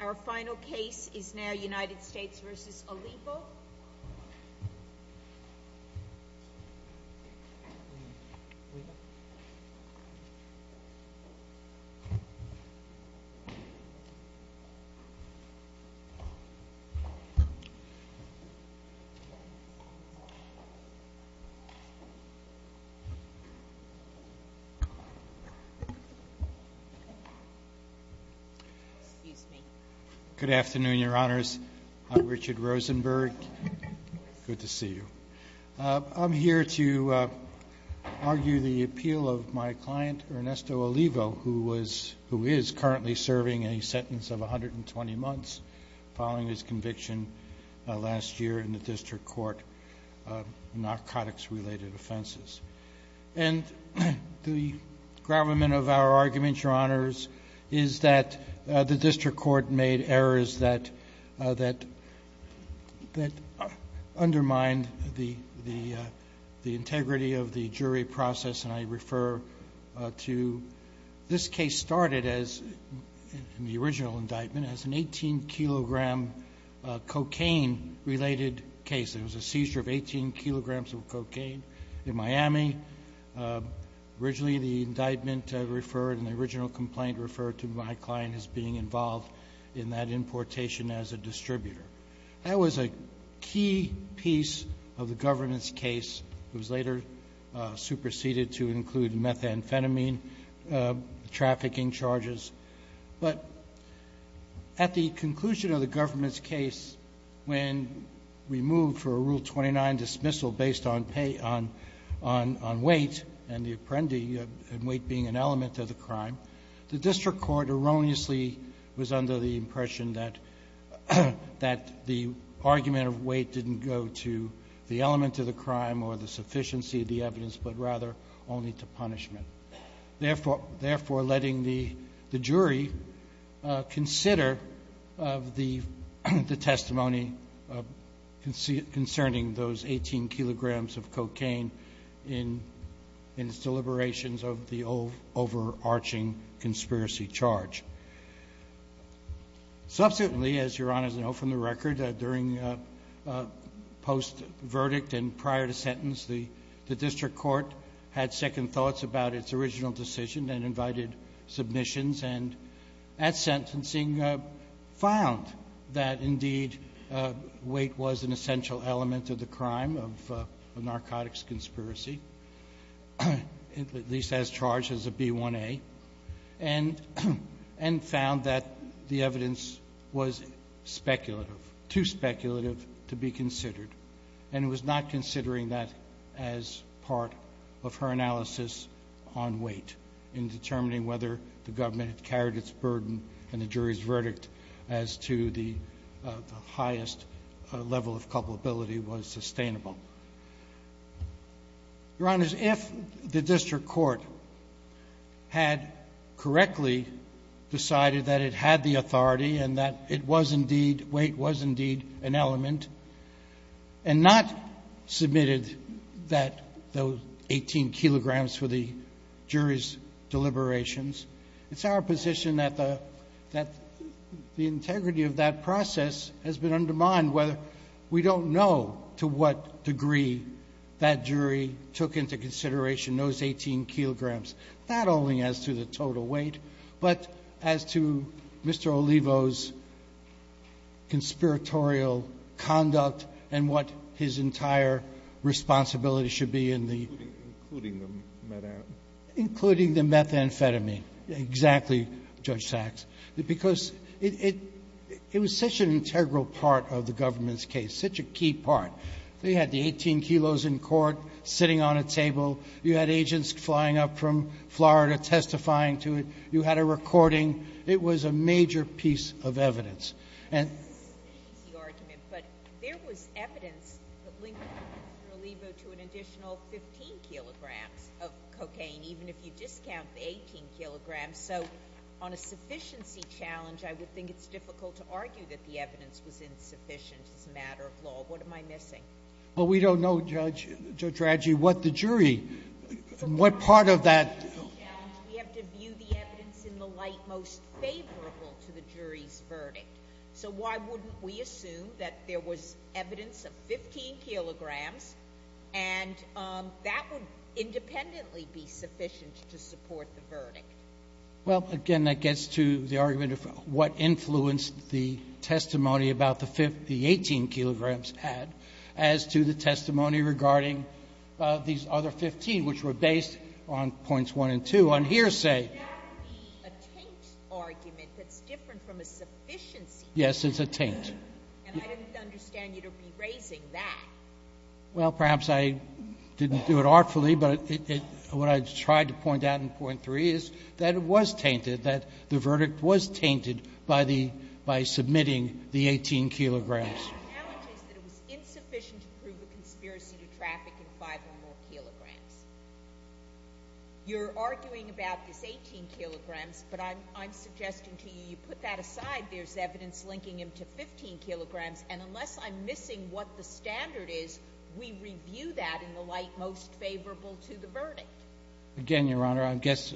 Our final case is now United States v. Olivo. Good afternoon, Your Honors. I'm Richard Rosenberg. Good to see you. I'm here to argue the appeal of my client, Ernesto Olivo, who is currently serving a sentence of 120 months following his conviction last year in the district court of narcotics-related offenses. And the gravamen of our argument, Your Honors, is that the district court made errors that undermined the integrity of the jury process. And I refer to this case started, in the original indictment, as an 18-kilogram cocaine-related case. There was a seizure of 18 kilograms of cocaine in Miami. Originally, the indictment referred and the original complaint referred to my client as being involved in that importation as a distributor. That was a key piece of the government's case. It was later superseded to include methamphetamine trafficking charges. But at the conclusion of the government's case, when we moved for a Rule 29 dismissal based on pay on weight and the apprendi and weight being an element of the crime, the district court erroneously was under the impression that the argument of weight didn't go to the element of the crime or the sufficiency of the evidence, but rather only to punishment. Therefore, letting the jury consider the testimony concerning those 18 kilograms of cocaine in its deliberations of the overarching conspiracy charge. Subsequently, as Your Honors know from the record, during post-verdict and prior to sentence, the district court had second thoughts about its original decision and invited submissions, and at sentencing found that indeed weight was an essential element of the crime of a narcotics conspiracy, at least as charged as a B1A, and found that the evidence was speculative, too speculative to be considered. And it was not considering that as part of her analysis on weight in determining whether the government had carried its burden and the jury's verdict as to the highest level of culpability was sustainable. Your Honors, if the district court had correctly decided that it had the authority and that weight was indeed an element and not submitted those 18 kilograms for the jury's deliberations, it's our position that the integrity of that process has been undermined. We don't know to what degree that jury took into consideration those 18 kilograms, not only as to the total weight but as to Mr. Olivo's conspiratorial conduct and what his entire responsibility should be in the ---- Including the methamphetamine. Including the methamphetamine, exactly, Judge Sachs, because it was such an integral part of the government's case, such a key part. They had the 18 kilos in court sitting on a table. You had agents flying up from Florida testifying to it. You had a recording. It was a major piece of evidence. This is an easy argument, but there was evidence that linked Mr. Olivo to an additional 15 kilograms of cocaine, even if you discount the 18 kilograms. So on a sufficiency challenge, I would think it's difficult to argue that the evidence was insufficient as a matter of law. What am I missing? Well, we don't know, Judge Raggi, what the jury, what part of that ---- We have to view the evidence in the light most favorable to the jury's verdict. So why wouldn't we assume that there was evidence of 15 kilograms and that would independently be sufficient to support the verdict? Well, again, that gets to the argument of what influenced the testimony about the 18 kilograms had as to the testimony regarding these other 15, which were based on points 1 and 2. On hearsay ---- That would be a taint argument that's different from a sufficiency argument. Yes, it's a taint. And I didn't understand you to be raising that. Well, perhaps I didn't do it artfully, but what I tried to point out in point 3 is that it was tainted, that the verdict was tainted by the ---- by submitting the 18 kilograms. The challenge is that it was insufficient to prove a conspiracy to traffic in 5 or more kilograms. You're arguing about this 18 kilograms, but I'm suggesting to you, you put that aside, there's evidence linking him to 15 kilograms, and unless I'm missing what the standard is, we review that in the light most favorable to the verdict. Again, Your Honor, I guess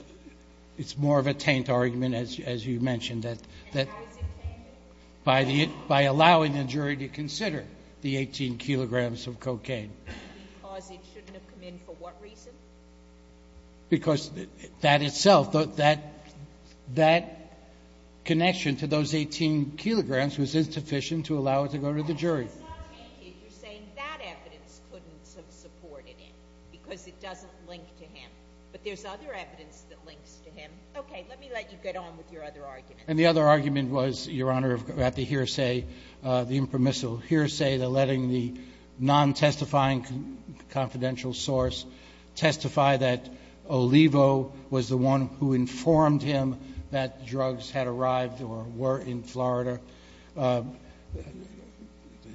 it's more of a taint argument, as you mentioned. And how is it tainted? By allowing the jury to consider the 18 kilograms of cocaine. Because it shouldn't have come in for what reason? Because that itself, that connection to those 18 kilograms was insufficient to allow it to go to the jury. It was not tainted. You're saying that evidence couldn't have supported it because it doesn't link to him. But there's other evidence that links to him. Okay, let me let you get on with your other argument. And the other argument was, Your Honor, about the hearsay, the impermissible hearsay, letting the non-testifying confidential source testify that Olivo was the one who informed him that drugs had arrived or were in Florida. The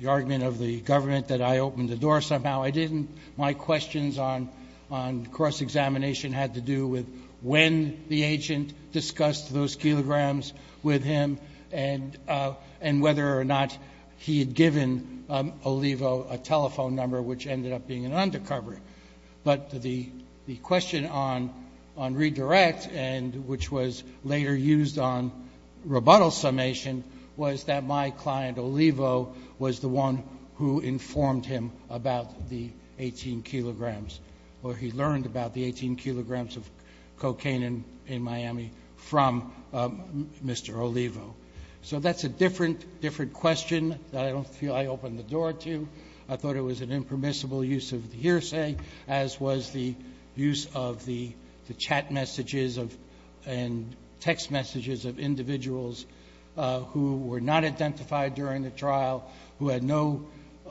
argument of the government that I opened the door somehow, I didn't. My questions on cross-examination had to do with when the agent discussed those kilograms with him and whether or not he had given Olivo a telephone number, which ended up being an undercover. But the question on redirect, which was later used on rebuttal summation, was that my client, Olivo, was the one who informed him about the 18 kilograms or he learned about the 18 kilograms of cocaine in Miami from Mr. Olivo. So that's a different question that I don't feel I opened the door to. I thought it was an impermissible use of the hearsay, as was the use of the chat messages and text messages of individuals who were not identified during the trial, who had no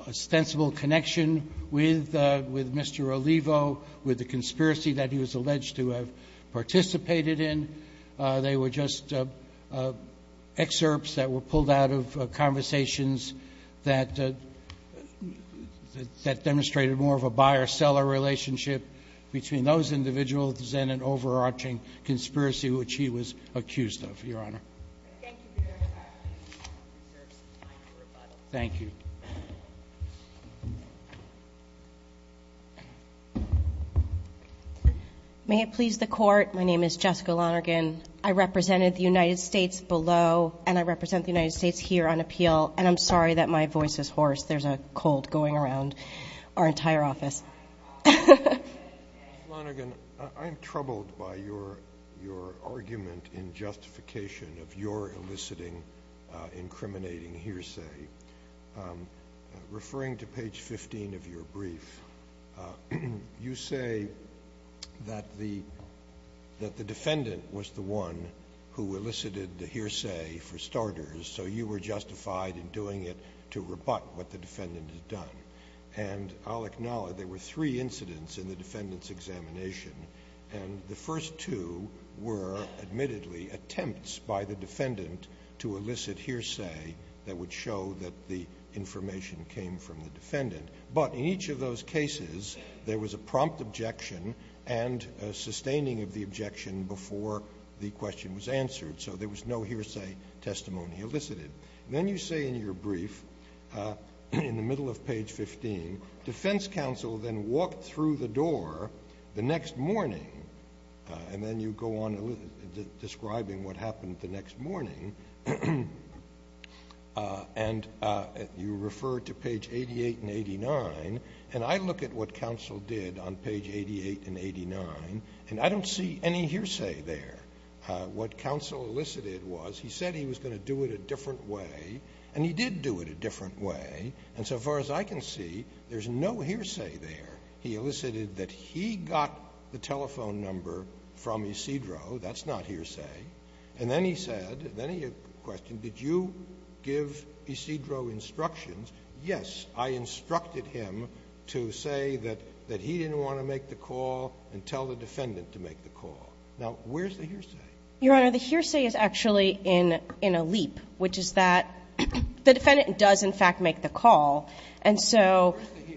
ostensible connection with Mr. Olivo, with the conspiracy that he was alleged to have participated in. They were just excerpts that were pulled out of conversations that demonstrated more of a buyer-seller relationship between those individuals and an overarching conspiracy which he was accused of, Your Honor. Thank you, Your Honor. Thank you. May it please the Court. My name is Jessica Lonergan. I represented the United States below, and I represent the United States here on appeal, and I'm sorry that my voice is hoarse. There's a cold going around our entire office. Jessica Lonergan, I'm troubled by your argument in justification of your eliciting, incriminating hearsay. Referring to page 15 of your brief, you say that the defendant was the one who elicited the hearsay, for starters, so you were justified in doing it to rebut what the defendant had done. And I'll acknowledge there were three incidents in the defendant's examination, and the first two were, admittedly, attempts by the defendant to elicit hearsay that would show that the information came from the defendant. But in each of those cases, there was a prompt objection and a sustaining of the objection before the question was answered, so there was no hearsay testimony elicited. Then you say in your brief, in the middle of page 15, defense counsel then walked through the door the next morning, and then you go on describing what happened the next morning, and you refer to page 88 and 89, and I look at what counsel did on page 88 and 89, and I don't see any hearsay there. What counsel elicited was he said he was going to do it a different way, and he did do it a different way, and so far as I can see, there's no hearsay there. He elicited that he got the telephone number from Isidro. That's not hearsay. And then he said, then he questioned, did you give Isidro instructions? Yes, I instructed him to say that he didn't want to make the call and tell the defendant to make the call. Now, where's the hearsay? Your Honor, the hearsay is actually in a leap, which is that the defendant does, in fact, make the call. And so the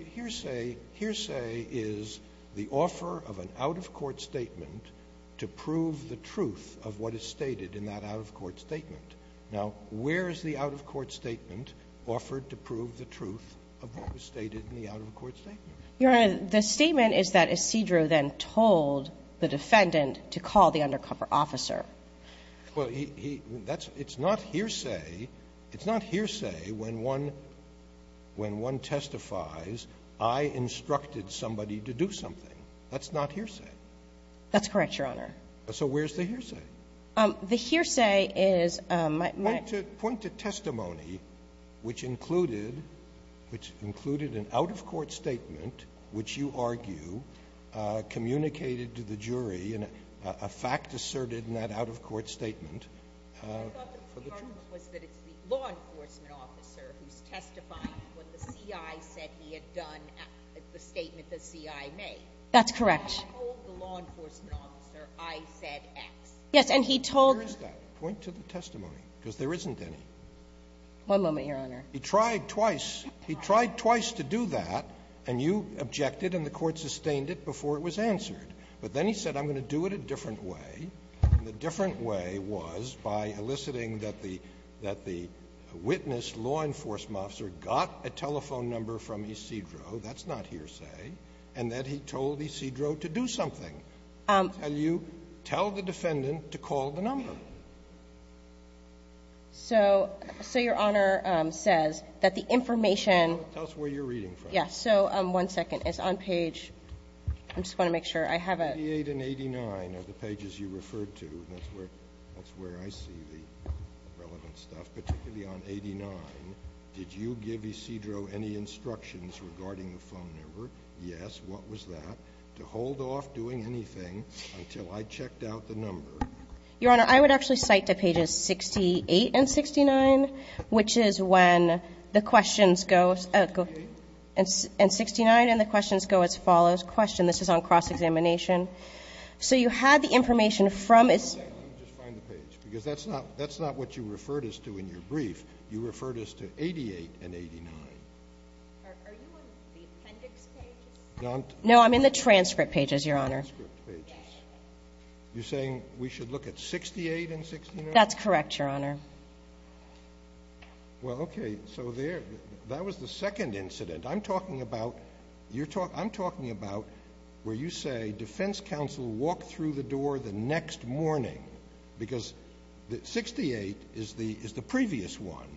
hearsay is the offer of an out-of-court statement to prove the truth of what is stated in that out-of-court statement. Now, where is the out-of-court statement offered to prove the truth of what was stated in the out-of-court statement? Your Honor, the statement is that Isidro then told the defendant to call the undercover officer. Well, he that's it's not hearsay. It's not hearsay when one when one testifies, I instructed somebody to do something. That's not hearsay. That's correct, Your Honor. So where's the hearsay? The hearsay is my point to testimony, which included which included an out-of-court statement, which you argue communicated to the jury and a fact asserted in that out-of-court statement for the truth. I thought the argument was that it's the law enforcement officer who's testifying when the C.I. said he had done the statement the C.I. made. That's correct. And he told the law enforcement officer, I said X. Yes, and he told. Where is that point to the testimony? Because there isn't any. One moment, Your Honor. He tried twice. He tried twice to do that, and you objected and the Court sustained it before it was answered. But then he said, I'm going to do it a different way. And the different way was by eliciting that the witness, law enforcement officer, got a telephone number from Isidro. That's not hearsay. And that he told Isidro to do something. And you tell the defendant to call the number. So Your Honor says that the information. Tell us where you're reading from. So one second. It's on page. I'm just going to make sure I have it. Page 88 and 89 are the pages you referred to. That's where I see the relevant stuff, particularly on 89. Did you give Isidro any instructions regarding the phone number? Yes. What was that? To hold off doing anything until I checked out the number. Your Honor, I would actually cite to pages 68 and 69, which is when the questions go as follows. Question. This is on cross-examination. So you had the information from. One second. Let me just find the page. Because that's not what you referred us to in your brief. You referred us to 88 and 89. Are you on the appendix pages? No, I'm in the transcript pages, Your Honor. Transcript pages. You're saying we should look at 68 and 69? That's correct, Your Honor. Well, okay. So that was the second incident. I'm talking about where you say defense counsel walked through the door the next morning. Because 68 is the previous one.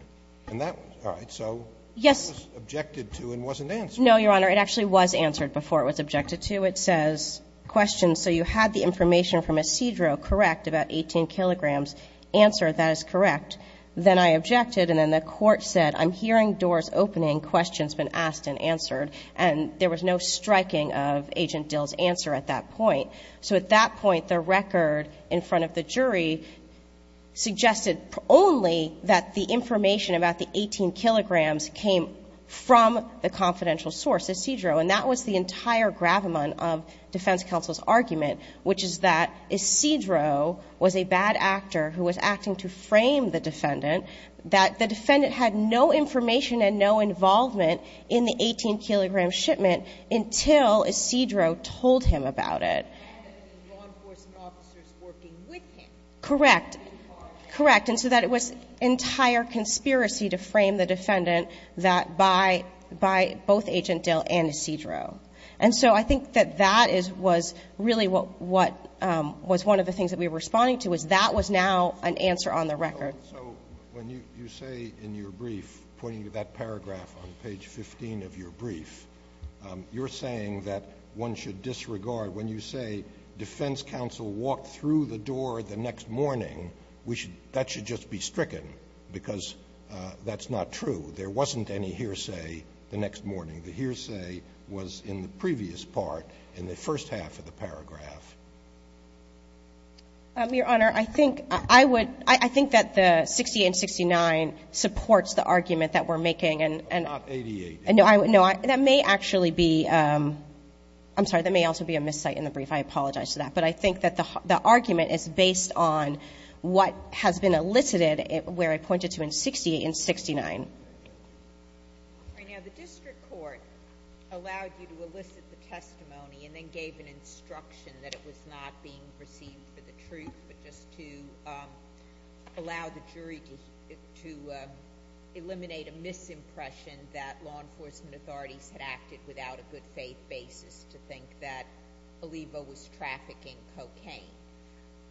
All right. So that was objected to and wasn't answered. No, Your Honor. It actually was answered before it was objected to. It says, question. So you had the information from Isidro, correct, about 18 kilograms. Answer. That is correct. Then I objected, and then the court said, I'm hearing doors opening, questions been asked and answered. And there was no striking of Agent Dill's answer at that point. So at that point, the record in front of the jury suggested only that the information about the 18 kilograms came from the confidential source, Isidro. And that was the entire gravamen of defense counsel's argument, which is that Isidro was a bad actor who was acting to frame the defendant, that the defendant had no information and no involvement in the 18-kilogram shipment until Isidro told him about it. And that there were law enforcement officers working with him. Correct. And so that it was entire conspiracy to frame the defendant by both Agent Dill and Isidro. And so I think that that was really what was one of the things that we were responding to, is that was now an answer on the record. So when you say in your brief, pointing to that paragraph on page 15 of your brief, you're saying that one should disregard. When you say defense counsel walked through the door the next morning, that should just be stricken, because that's not true. There wasn't any hearsay the next morning. The hearsay was in the previous part, in the first half of the paragraph. Your Honor, I think I would – I think that the 68 and 69 supports the argument that we're making. Not 88. No. That may actually be – I'm sorry. That may also be a miscite in the brief. I apologize for that. But I think that the argument is based on what has been elicited where I pointed to in 68 and 69. All right. Now, the district court allowed you to elicit the testimony and then gave an instruction that it was not being perceived for the truth, but just to allow the jury to eliminate a misimpression that law enforcement authorities had acted without a good faith basis to think that Olivo was trafficking cocaine.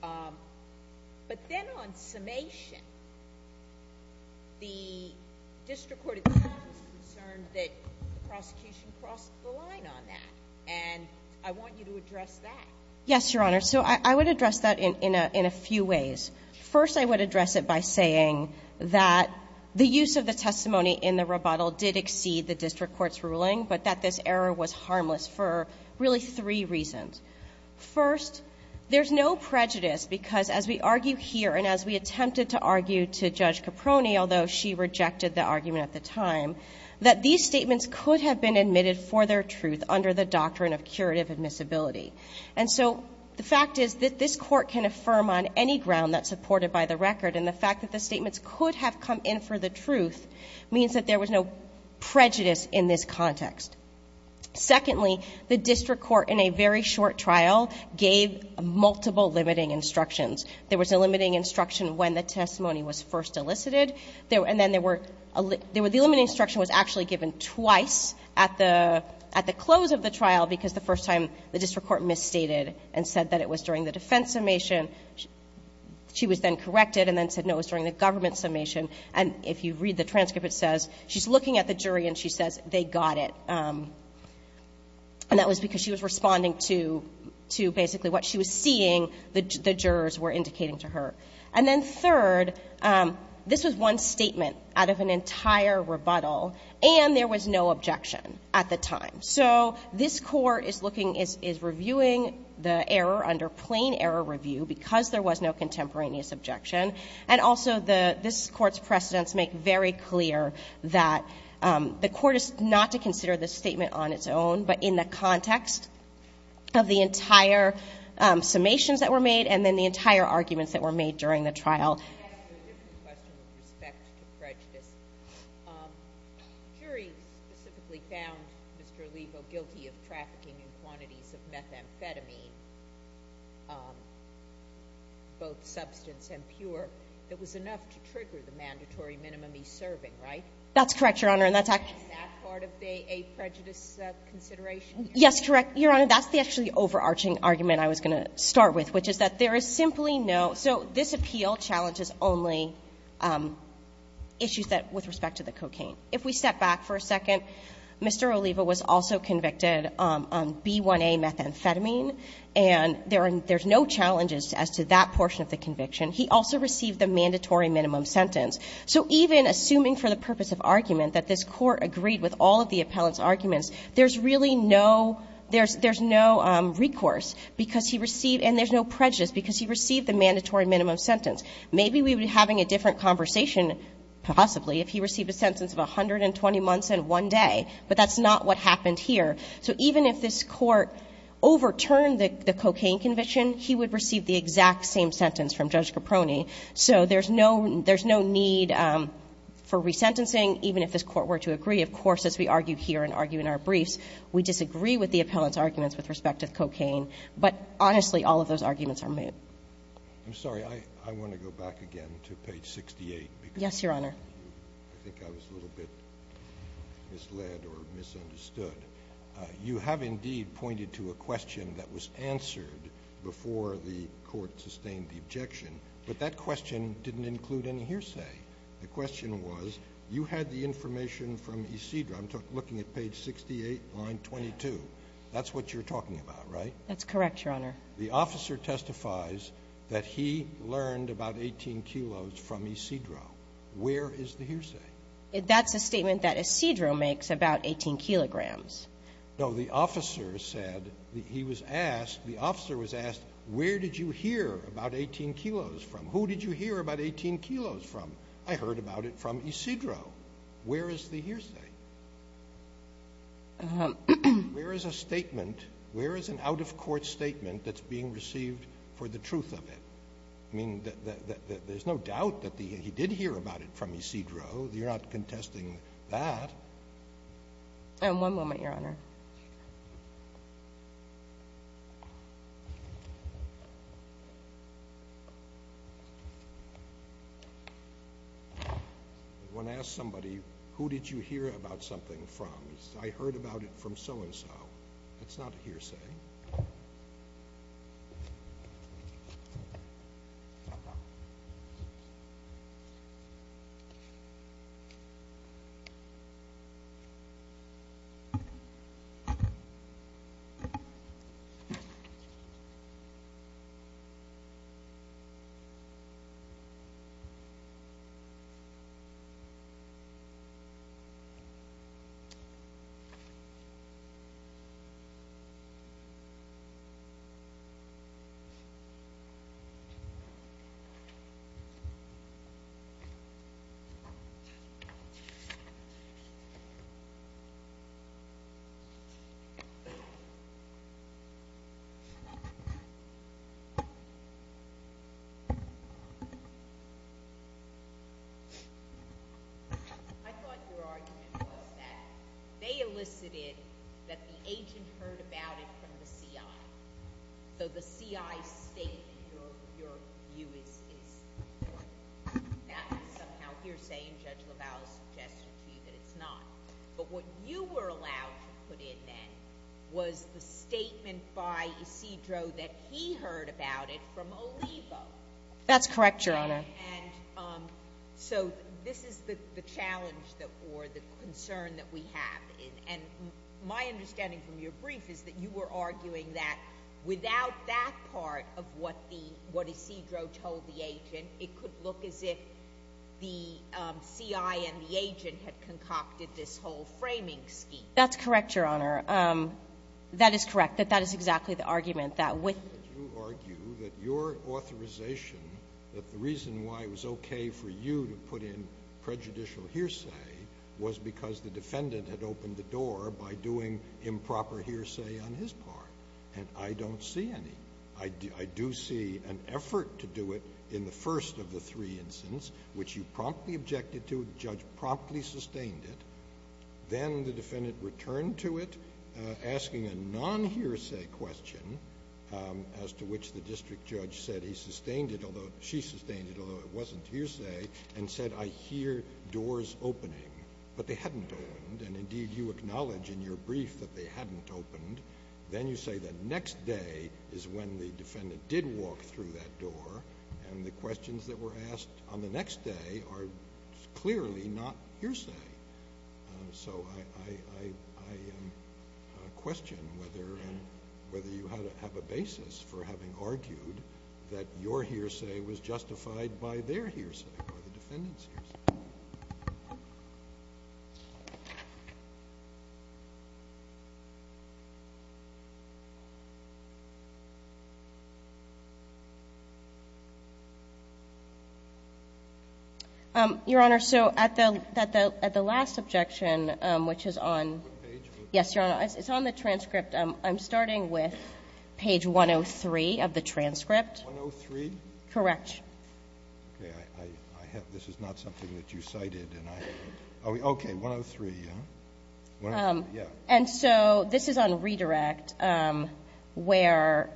But then on summation, the district court at the time was concerned that the prosecution crossed the line on that. And I want you to address that. Yes, Your Honor. So I would address that in a few ways. First, I would address it by saying that the use of the testimony in the rebuttal did exceed the district court's ruling, but that this error was harmless for really three reasons. First, there's no prejudice because as we argue here and as we attempted to argue to Judge Caproni, although she rejected the argument at the time, that these statements could have been admitted for their truth under the doctrine of curative admissibility. And so the fact is that this court can affirm on any ground that's supported by the record, and the fact that the statements could have come in for the truth means that there was no prejudice in this context. Secondly, the district court in a very short trial gave multiple limiting instructions. There was a limiting instruction when the testimony was first elicited, and then the limiting instruction was actually given twice at the close of the trial because the first time the district court misstated and said that it was during the defense summation. She was then corrected and then said no, it was during the government summation. And if you read the transcript, it says she's looking at the jury and she says they got it, and that was because she was responding to basically what she was seeing the jurors were indicating to her. And then third, this was one statement out of an entire rebuttal, and there was no objection at the time. So this court is reviewing the error under plain error review because there was no contemporaneous objection, and also this court's precedents make very clear that the court is not to consider this statement on its own, but in the context of the entire summations that were made and then the entire arguments that were made during the trial. I have a different question with respect to prejudice. The jury specifically found Mr. Alivo guilty of trafficking in quantities of methamphetamine, both substance and pure, that was enough to trigger the mandatory minimum he's serving, right? That's correct, Your Honor, and that's actually... Is that part of a prejudice consideration? Yes, correct, Your Honor. That's the actually overarching argument I was going to start with, which is that there is simply no... So this appeal challenges only issues with respect to the cocaine. If we step back for a second, Mr. Alivo was also convicted on B1A methamphetamine, and there's no challenges as to that portion of the conviction. He also received the mandatory minimum sentence. So even assuming for the purpose of argument that this court agreed with all of the appellant's arguments, there's really no... There's no recourse because he received... And there's no prejudice because he received the mandatory minimum sentence. Maybe we would be having a different conversation, possibly, if he received a sentence of 120 months and one day, but that's not what happened here. So even if this court overturned the cocaine conviction, he would receive the exact same sentence from Judge Caproni. So there's no need for resentencing, even if this court were to agree, of course, as we argue here and argue in our briefs. We disagree with the appellant's arguments with respect to cocaine, but honestly, all of those arguments are moot. I'm sorry. I want to go back again to page 68. Yes, Your Honor. I think I was a little bit misled or misunderstood. You have indeed pointed to a question that was answered before the court sustained the objection, but that question didn't include any hearsay. The question was you had the information from Isidro. I'm looking at page 68, line 22. That's what you're talking about, right? That's correct, Your Honor. The officer testifies that he learned about 18 kilos from Isidro. Where is the hearsay? That's a statement that Isidro makes about 18 kilograms. No, the officer said he was asked, the officer was asked, where did you hear about 18 kilos from? Who did you hear about 18 kilos from? I heard about it from Isidro. Where is the hearsay? Where is a statement, where is an out-of-court statement that's being received for the truth of it? I mean, there's no doubt that he did hear about it from Isidro. You're not contesting that. One moment, Your Honor. Your Honor? When asked somebody, who did you hear about something from? He said, I heard about it from so-and-so. That's not a hearsay. All right. I thought your argument was that they elicited that the agent heard about it from the C.I. So the C.I. statement, your view is that that's a hearsay, and Judge LaValle suggested to you that it's not. But what you were allowed to put in then was the statement by Isidro that he heard about it from Olivo. That's correct, Your Honor. And so this is the challenge or the concern that we have. And my understanding from your brief is that you were arguing that without that part of what Isidro told the agent, it could look as if the C.I. and the agent had concocted this whole framing scheme. That's correct, Your Honor. That is correct. That that is exactly the argument. You argue that your authorization, that the reason why it was okay for you to put in prejudicial hearsay, was because the defendant had opened the door by doing improper hearsay on his part. And I don't see any. I do see an effort to do it in the first of the three instances, which you promptly objected to. The judge promptly sustained it. Then the defendant returned to it asking a non-hearsay question, as to which the district judge said he sustained it, although she sustained it, although it wasn't hearsay, and said, I hear doors opening, but they hadn't opened. And, indeed, you acknowledge in your brief that they hadn't opened. Then you say that next day is when the defendant did walk through that door, and the questions that were asked on the next day are clearly not hearsay. So I question whether you have a basis for having argued that your hearsay was justified by their hearsay, by the defendant's hearsay. Your Honor, so at the last objection, which is on the transcript, I'm starting with page 103 of the transcript. 103? Correct. Okay. This is not something that you cited. Okay. 103. Yeah. And so this is on redirect, where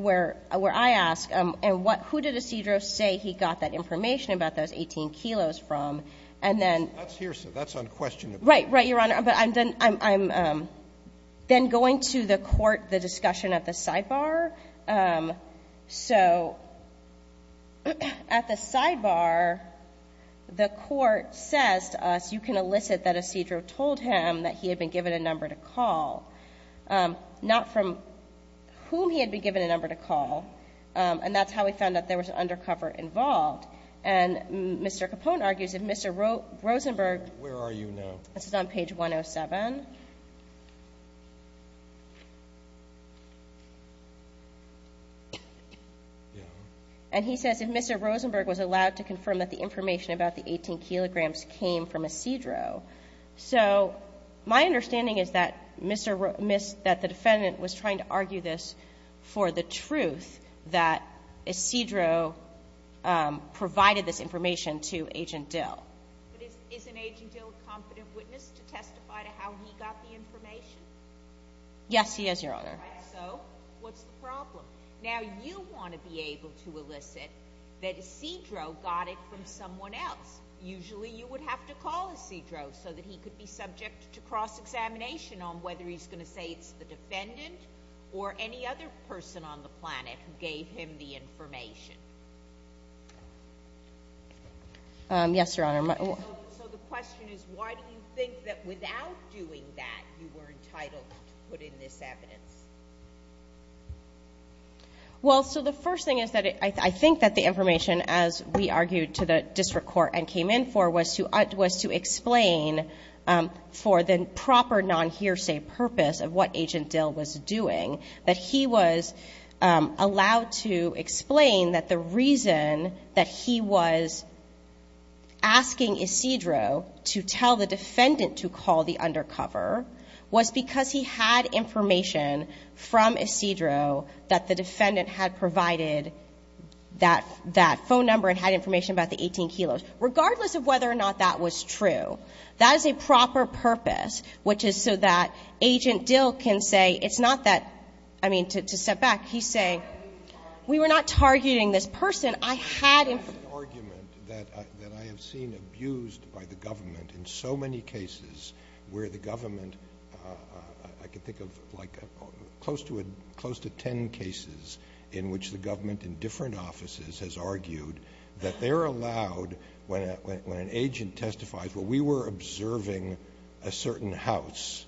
I ask, who did Isidro say he got that information about those 18 kilos from? That's hearsay. That's unquestionable. Right. Right, Your Honor. But I'm then going to the court the discussion at the sidebar. So at the sidebar, the court says to us, you can elicit that Isidro told him that he had been given a number to call, not from whom he had been given a number to call, and that's how we found out there was an undercover involved. And Mr. Capone argues that Mr. Rosenberg ---- Where are you now? This is on page 107. And he says if Mr. Rosenberg was allowed to confirm that the information about the 18 kilograms came from Isidro. So my understanding is that the defendant was trying to argue this for the truth that Isidro provided this information to Agent Dill. But isn't Agent Dill a confident witness to testify to how he got the information? Yes, he is, Your Honor. All right. So what's the problem? Now you want to be able to elicit that Isidro got it from someone else. Usually you would have to call Isidro so that he could be subject to cross-examination on whether he's going to say it's the defendant or any other person on the planet who gave him the information. Yes, Your Honor. So the question is why do you think that without doing that you were entitled to put in this evidence? Well, so the first thing is that I think that the information, as we argued to the district court and came in for, was to explain for the proper non-hearsay purpose of what Agent Dill was doing, that he was allowed to explain that the reason that he was asking Isidro to tell the defendant to call the undercover was because he had information from Isidro that the defendant had provided that phone number and had information about the 18 kilos. Regardless of whether or not that was true, that is a proper purpose, which is so that Agent Dill can say it's not that. I mean, to step back, he's saying we were not targeting this person. I had information. Roberts.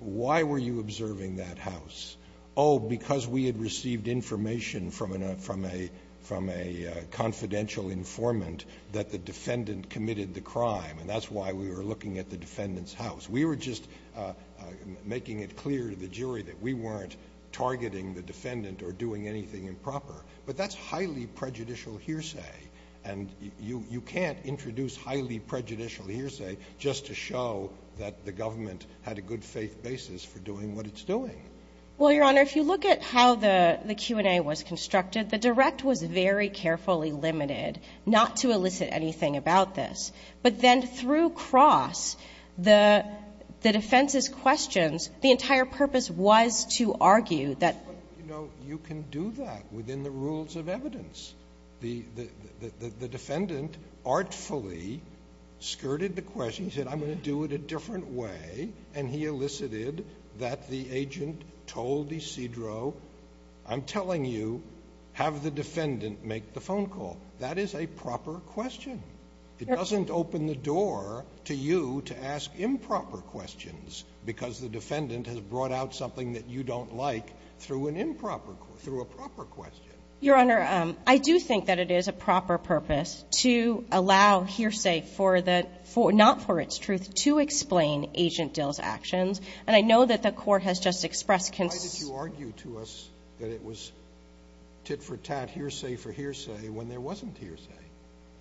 Why were you observing that house? Oh, because we had received information from a confidential informant that the defendant committed the crime, and that's why we were looking at the defendant's house. We were just making it clear to the jury that we weren't targeting the defendant or doing anything improper. But that's highly prejudicial hearsay, and you can't introduce highly prejudicial hearsay just to show that the government had a good faith basis for doing what it's doing. Well, Your Honor, if you look at how the Q&A was constructed, the direct was very carefully limited not to elicit anything about this. But then through Cross, the defense's questions, the entire purpose was to argue that you can do that within the rules of evidence. The defendant artfully skirted the question. He said, I'm going to do it a different way, and he elicited that the agent told Isidro, I'm telling you have the defendant make the phone call. That is a proper question. It doesn't open the door to you to ask improper questions because the defendant has brought out something that you don't like through a proper question. Your Honor, I do think that it is a proper purpose to allow hearsay not for its truth to explain Agent Dill's actions, and I know that the court has just expressed concern. Why did you argue to us that it was tit for tat, hearsay for hearsay, when there wasn't hearsay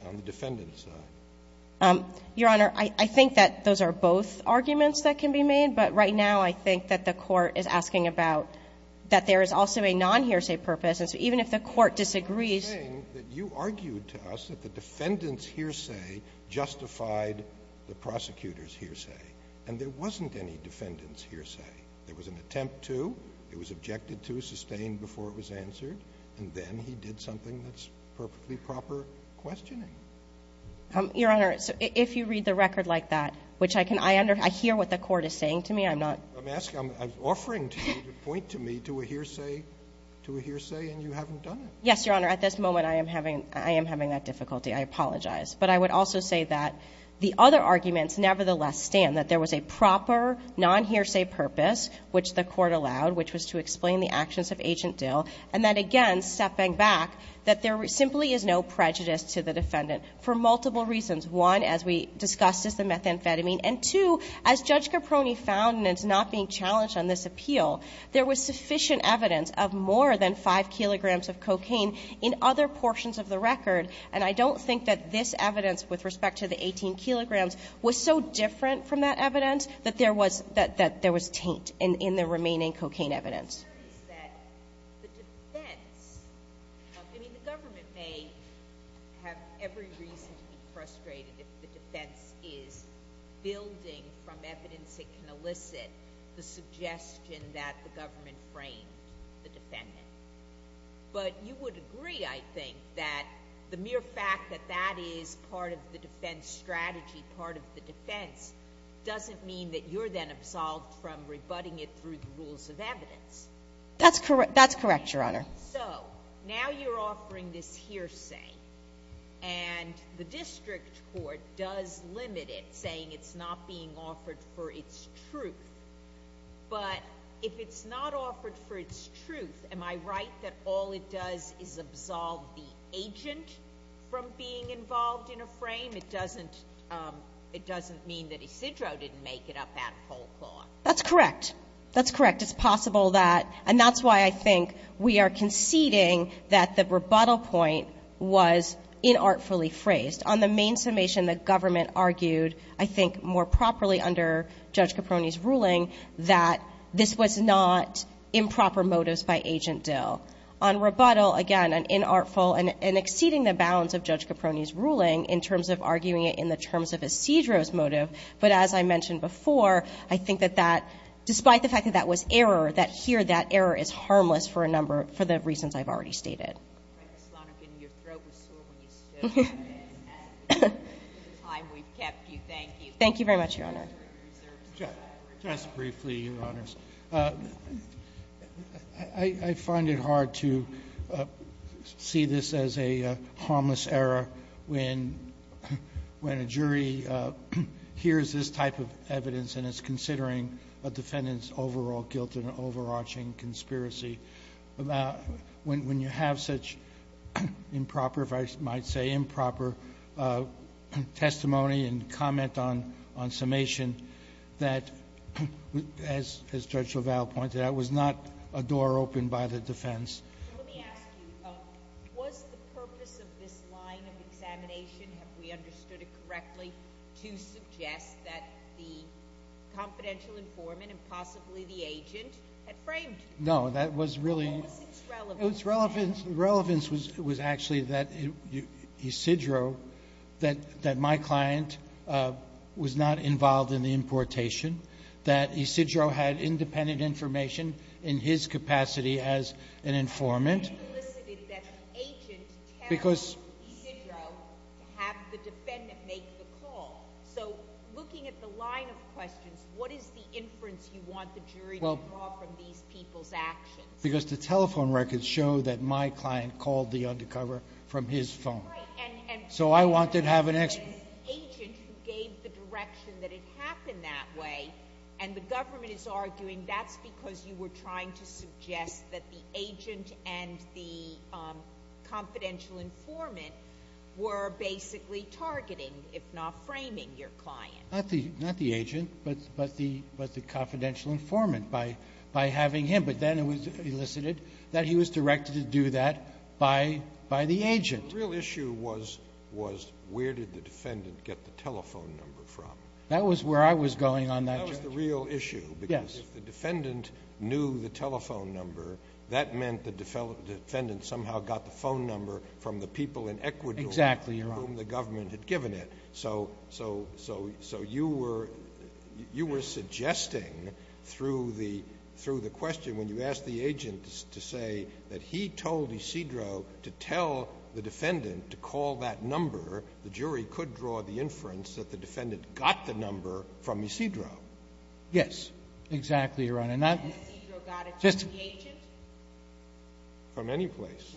on the defendant's side? Your Honor, I think that those are both arguments that can be made, but right now I think that the court is asking about that there is also a non-hearsay purpose, and so even if the court disagrees. You're saying that you argued to us that the defendant's hearsay justified the prosecutor's hearsay, and there wasn't any defendant's hearsay. There was an attempt to, it was objected to, sustained before it was answered, and then he did something that's perfectly proper questioning. Your Honor, if you read the record like that, which I can, I hear what the court is saying to me, I'm not. I'm offering to you to point to me to a hearsay, to a hearsay, and you haven't done it. Yes, Your Honor, at this moment I am having that difficulty. I apologize. But I would also say that the other arguments nevertheless stand, that there was a proper non-hearsay purpose, which the court allowed, which was to explain the actions of Agent Dill, and then again stepping back that there simply is no prejudice to the defendant for multiple reasons. One, as we discussed is the methamphetamine, and two, as Judge Caproni found and is not being challenged on this appeal, there was sufficient evidence of more than 5 kilograms of cocaine in other portions of the record, and I don't think that this evidence with respect to the 18 kilograms was so different from that evidence that there was, that there was taint in the remaining cocaine evidence. The defense, I mean the government may have every reason to be frustrated if the defense is building from evidence that can elicit the suggestion that the government framed the defendant, but you would agree I think that the mere fact that that is part of the defense strategy, part of the defense, doesn't mean that you're then absolved from rebutting it through the rules of evidence. That's correct, Your Honor. So now you're offering this hearsay, and the district court does limit it, saying it's not being offered for its truth, but if it's not offered for its truth, am I right that all it does is absolve the agent from being involved in a frame? It doesn't mean that Isidro didn't make it up that whole clause. That's correct. That's correct. It's possible that, and that's why I think we are conceding that the rebuttal point was inartfully phrased. On the main summation that government argued, I think more properly under Judge Caproni's ruling, that this was not improper motives by Agent Dill. On rebuttal, again, an inartful and exceeding the bounds of Judge Caproni's ruling in terms of arguing it in the terms of Isidro's motive, but as I mentioned before, I think that that, despite the fact that that was error, that here that error is harmless for a number, for the reasons I've already stated. Thank you very much, Your Honor. Just briefly, Your Honors. I find it hard to see this as a harmless error when a jury hears this type of evidence and is considering a defendant's overall guilt in an overarching conspiracy. When you have such improper, if I might say improper, testimony and comment on summation that, as Judge LaValle pointed out, was not a door opened by the defense. Let me ask you, was the purpose of this line of examination, if we understood it correctly, to suggest that the confidential informant and possibly the agent had framed? No, that was really... What was its relevance? Its relevance was actually that Isidro, that my client was not involved in the importation, that Isidro had independent information in his capacity as an informant. You solicited that the agent tell Isidro to have the defendant make the call. So looking at the line of questions, what is the inference you want the jury to draw from these people's actions? Because the telephone records show that my client called the undercover from his phone. Right. So I want to have an explanation. The agent who gave the direction that it happened that way, and the government is arguing that's because you were trying to suggest that the agent and the confidential informant were basically targeting, if not framing, your client. Not the agent, but the confidential informant, by having him. But then it was elicited that he was directed to do that by the agent. The real issue was where did the defendant get the telephone number from. That was where I was going on that charge. That was the real issue. Yes. Because if the defendant knew the telephone number, that meant the defendant somehow got the phone number from the people in Ecuador... Exactly, Your Honor. ...with whom the government had given it. So you were suggesting through the question, when you asked the agent to say that he told Isidro to tell the defendant to call that number, the jury could draw the inference that the defendant got the number from Isidro. Yes. Exactly, Your Honor. Did Isidro got it from the agent? From any place.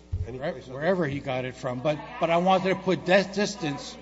Wherever he got it from. But I wanted to put that distance.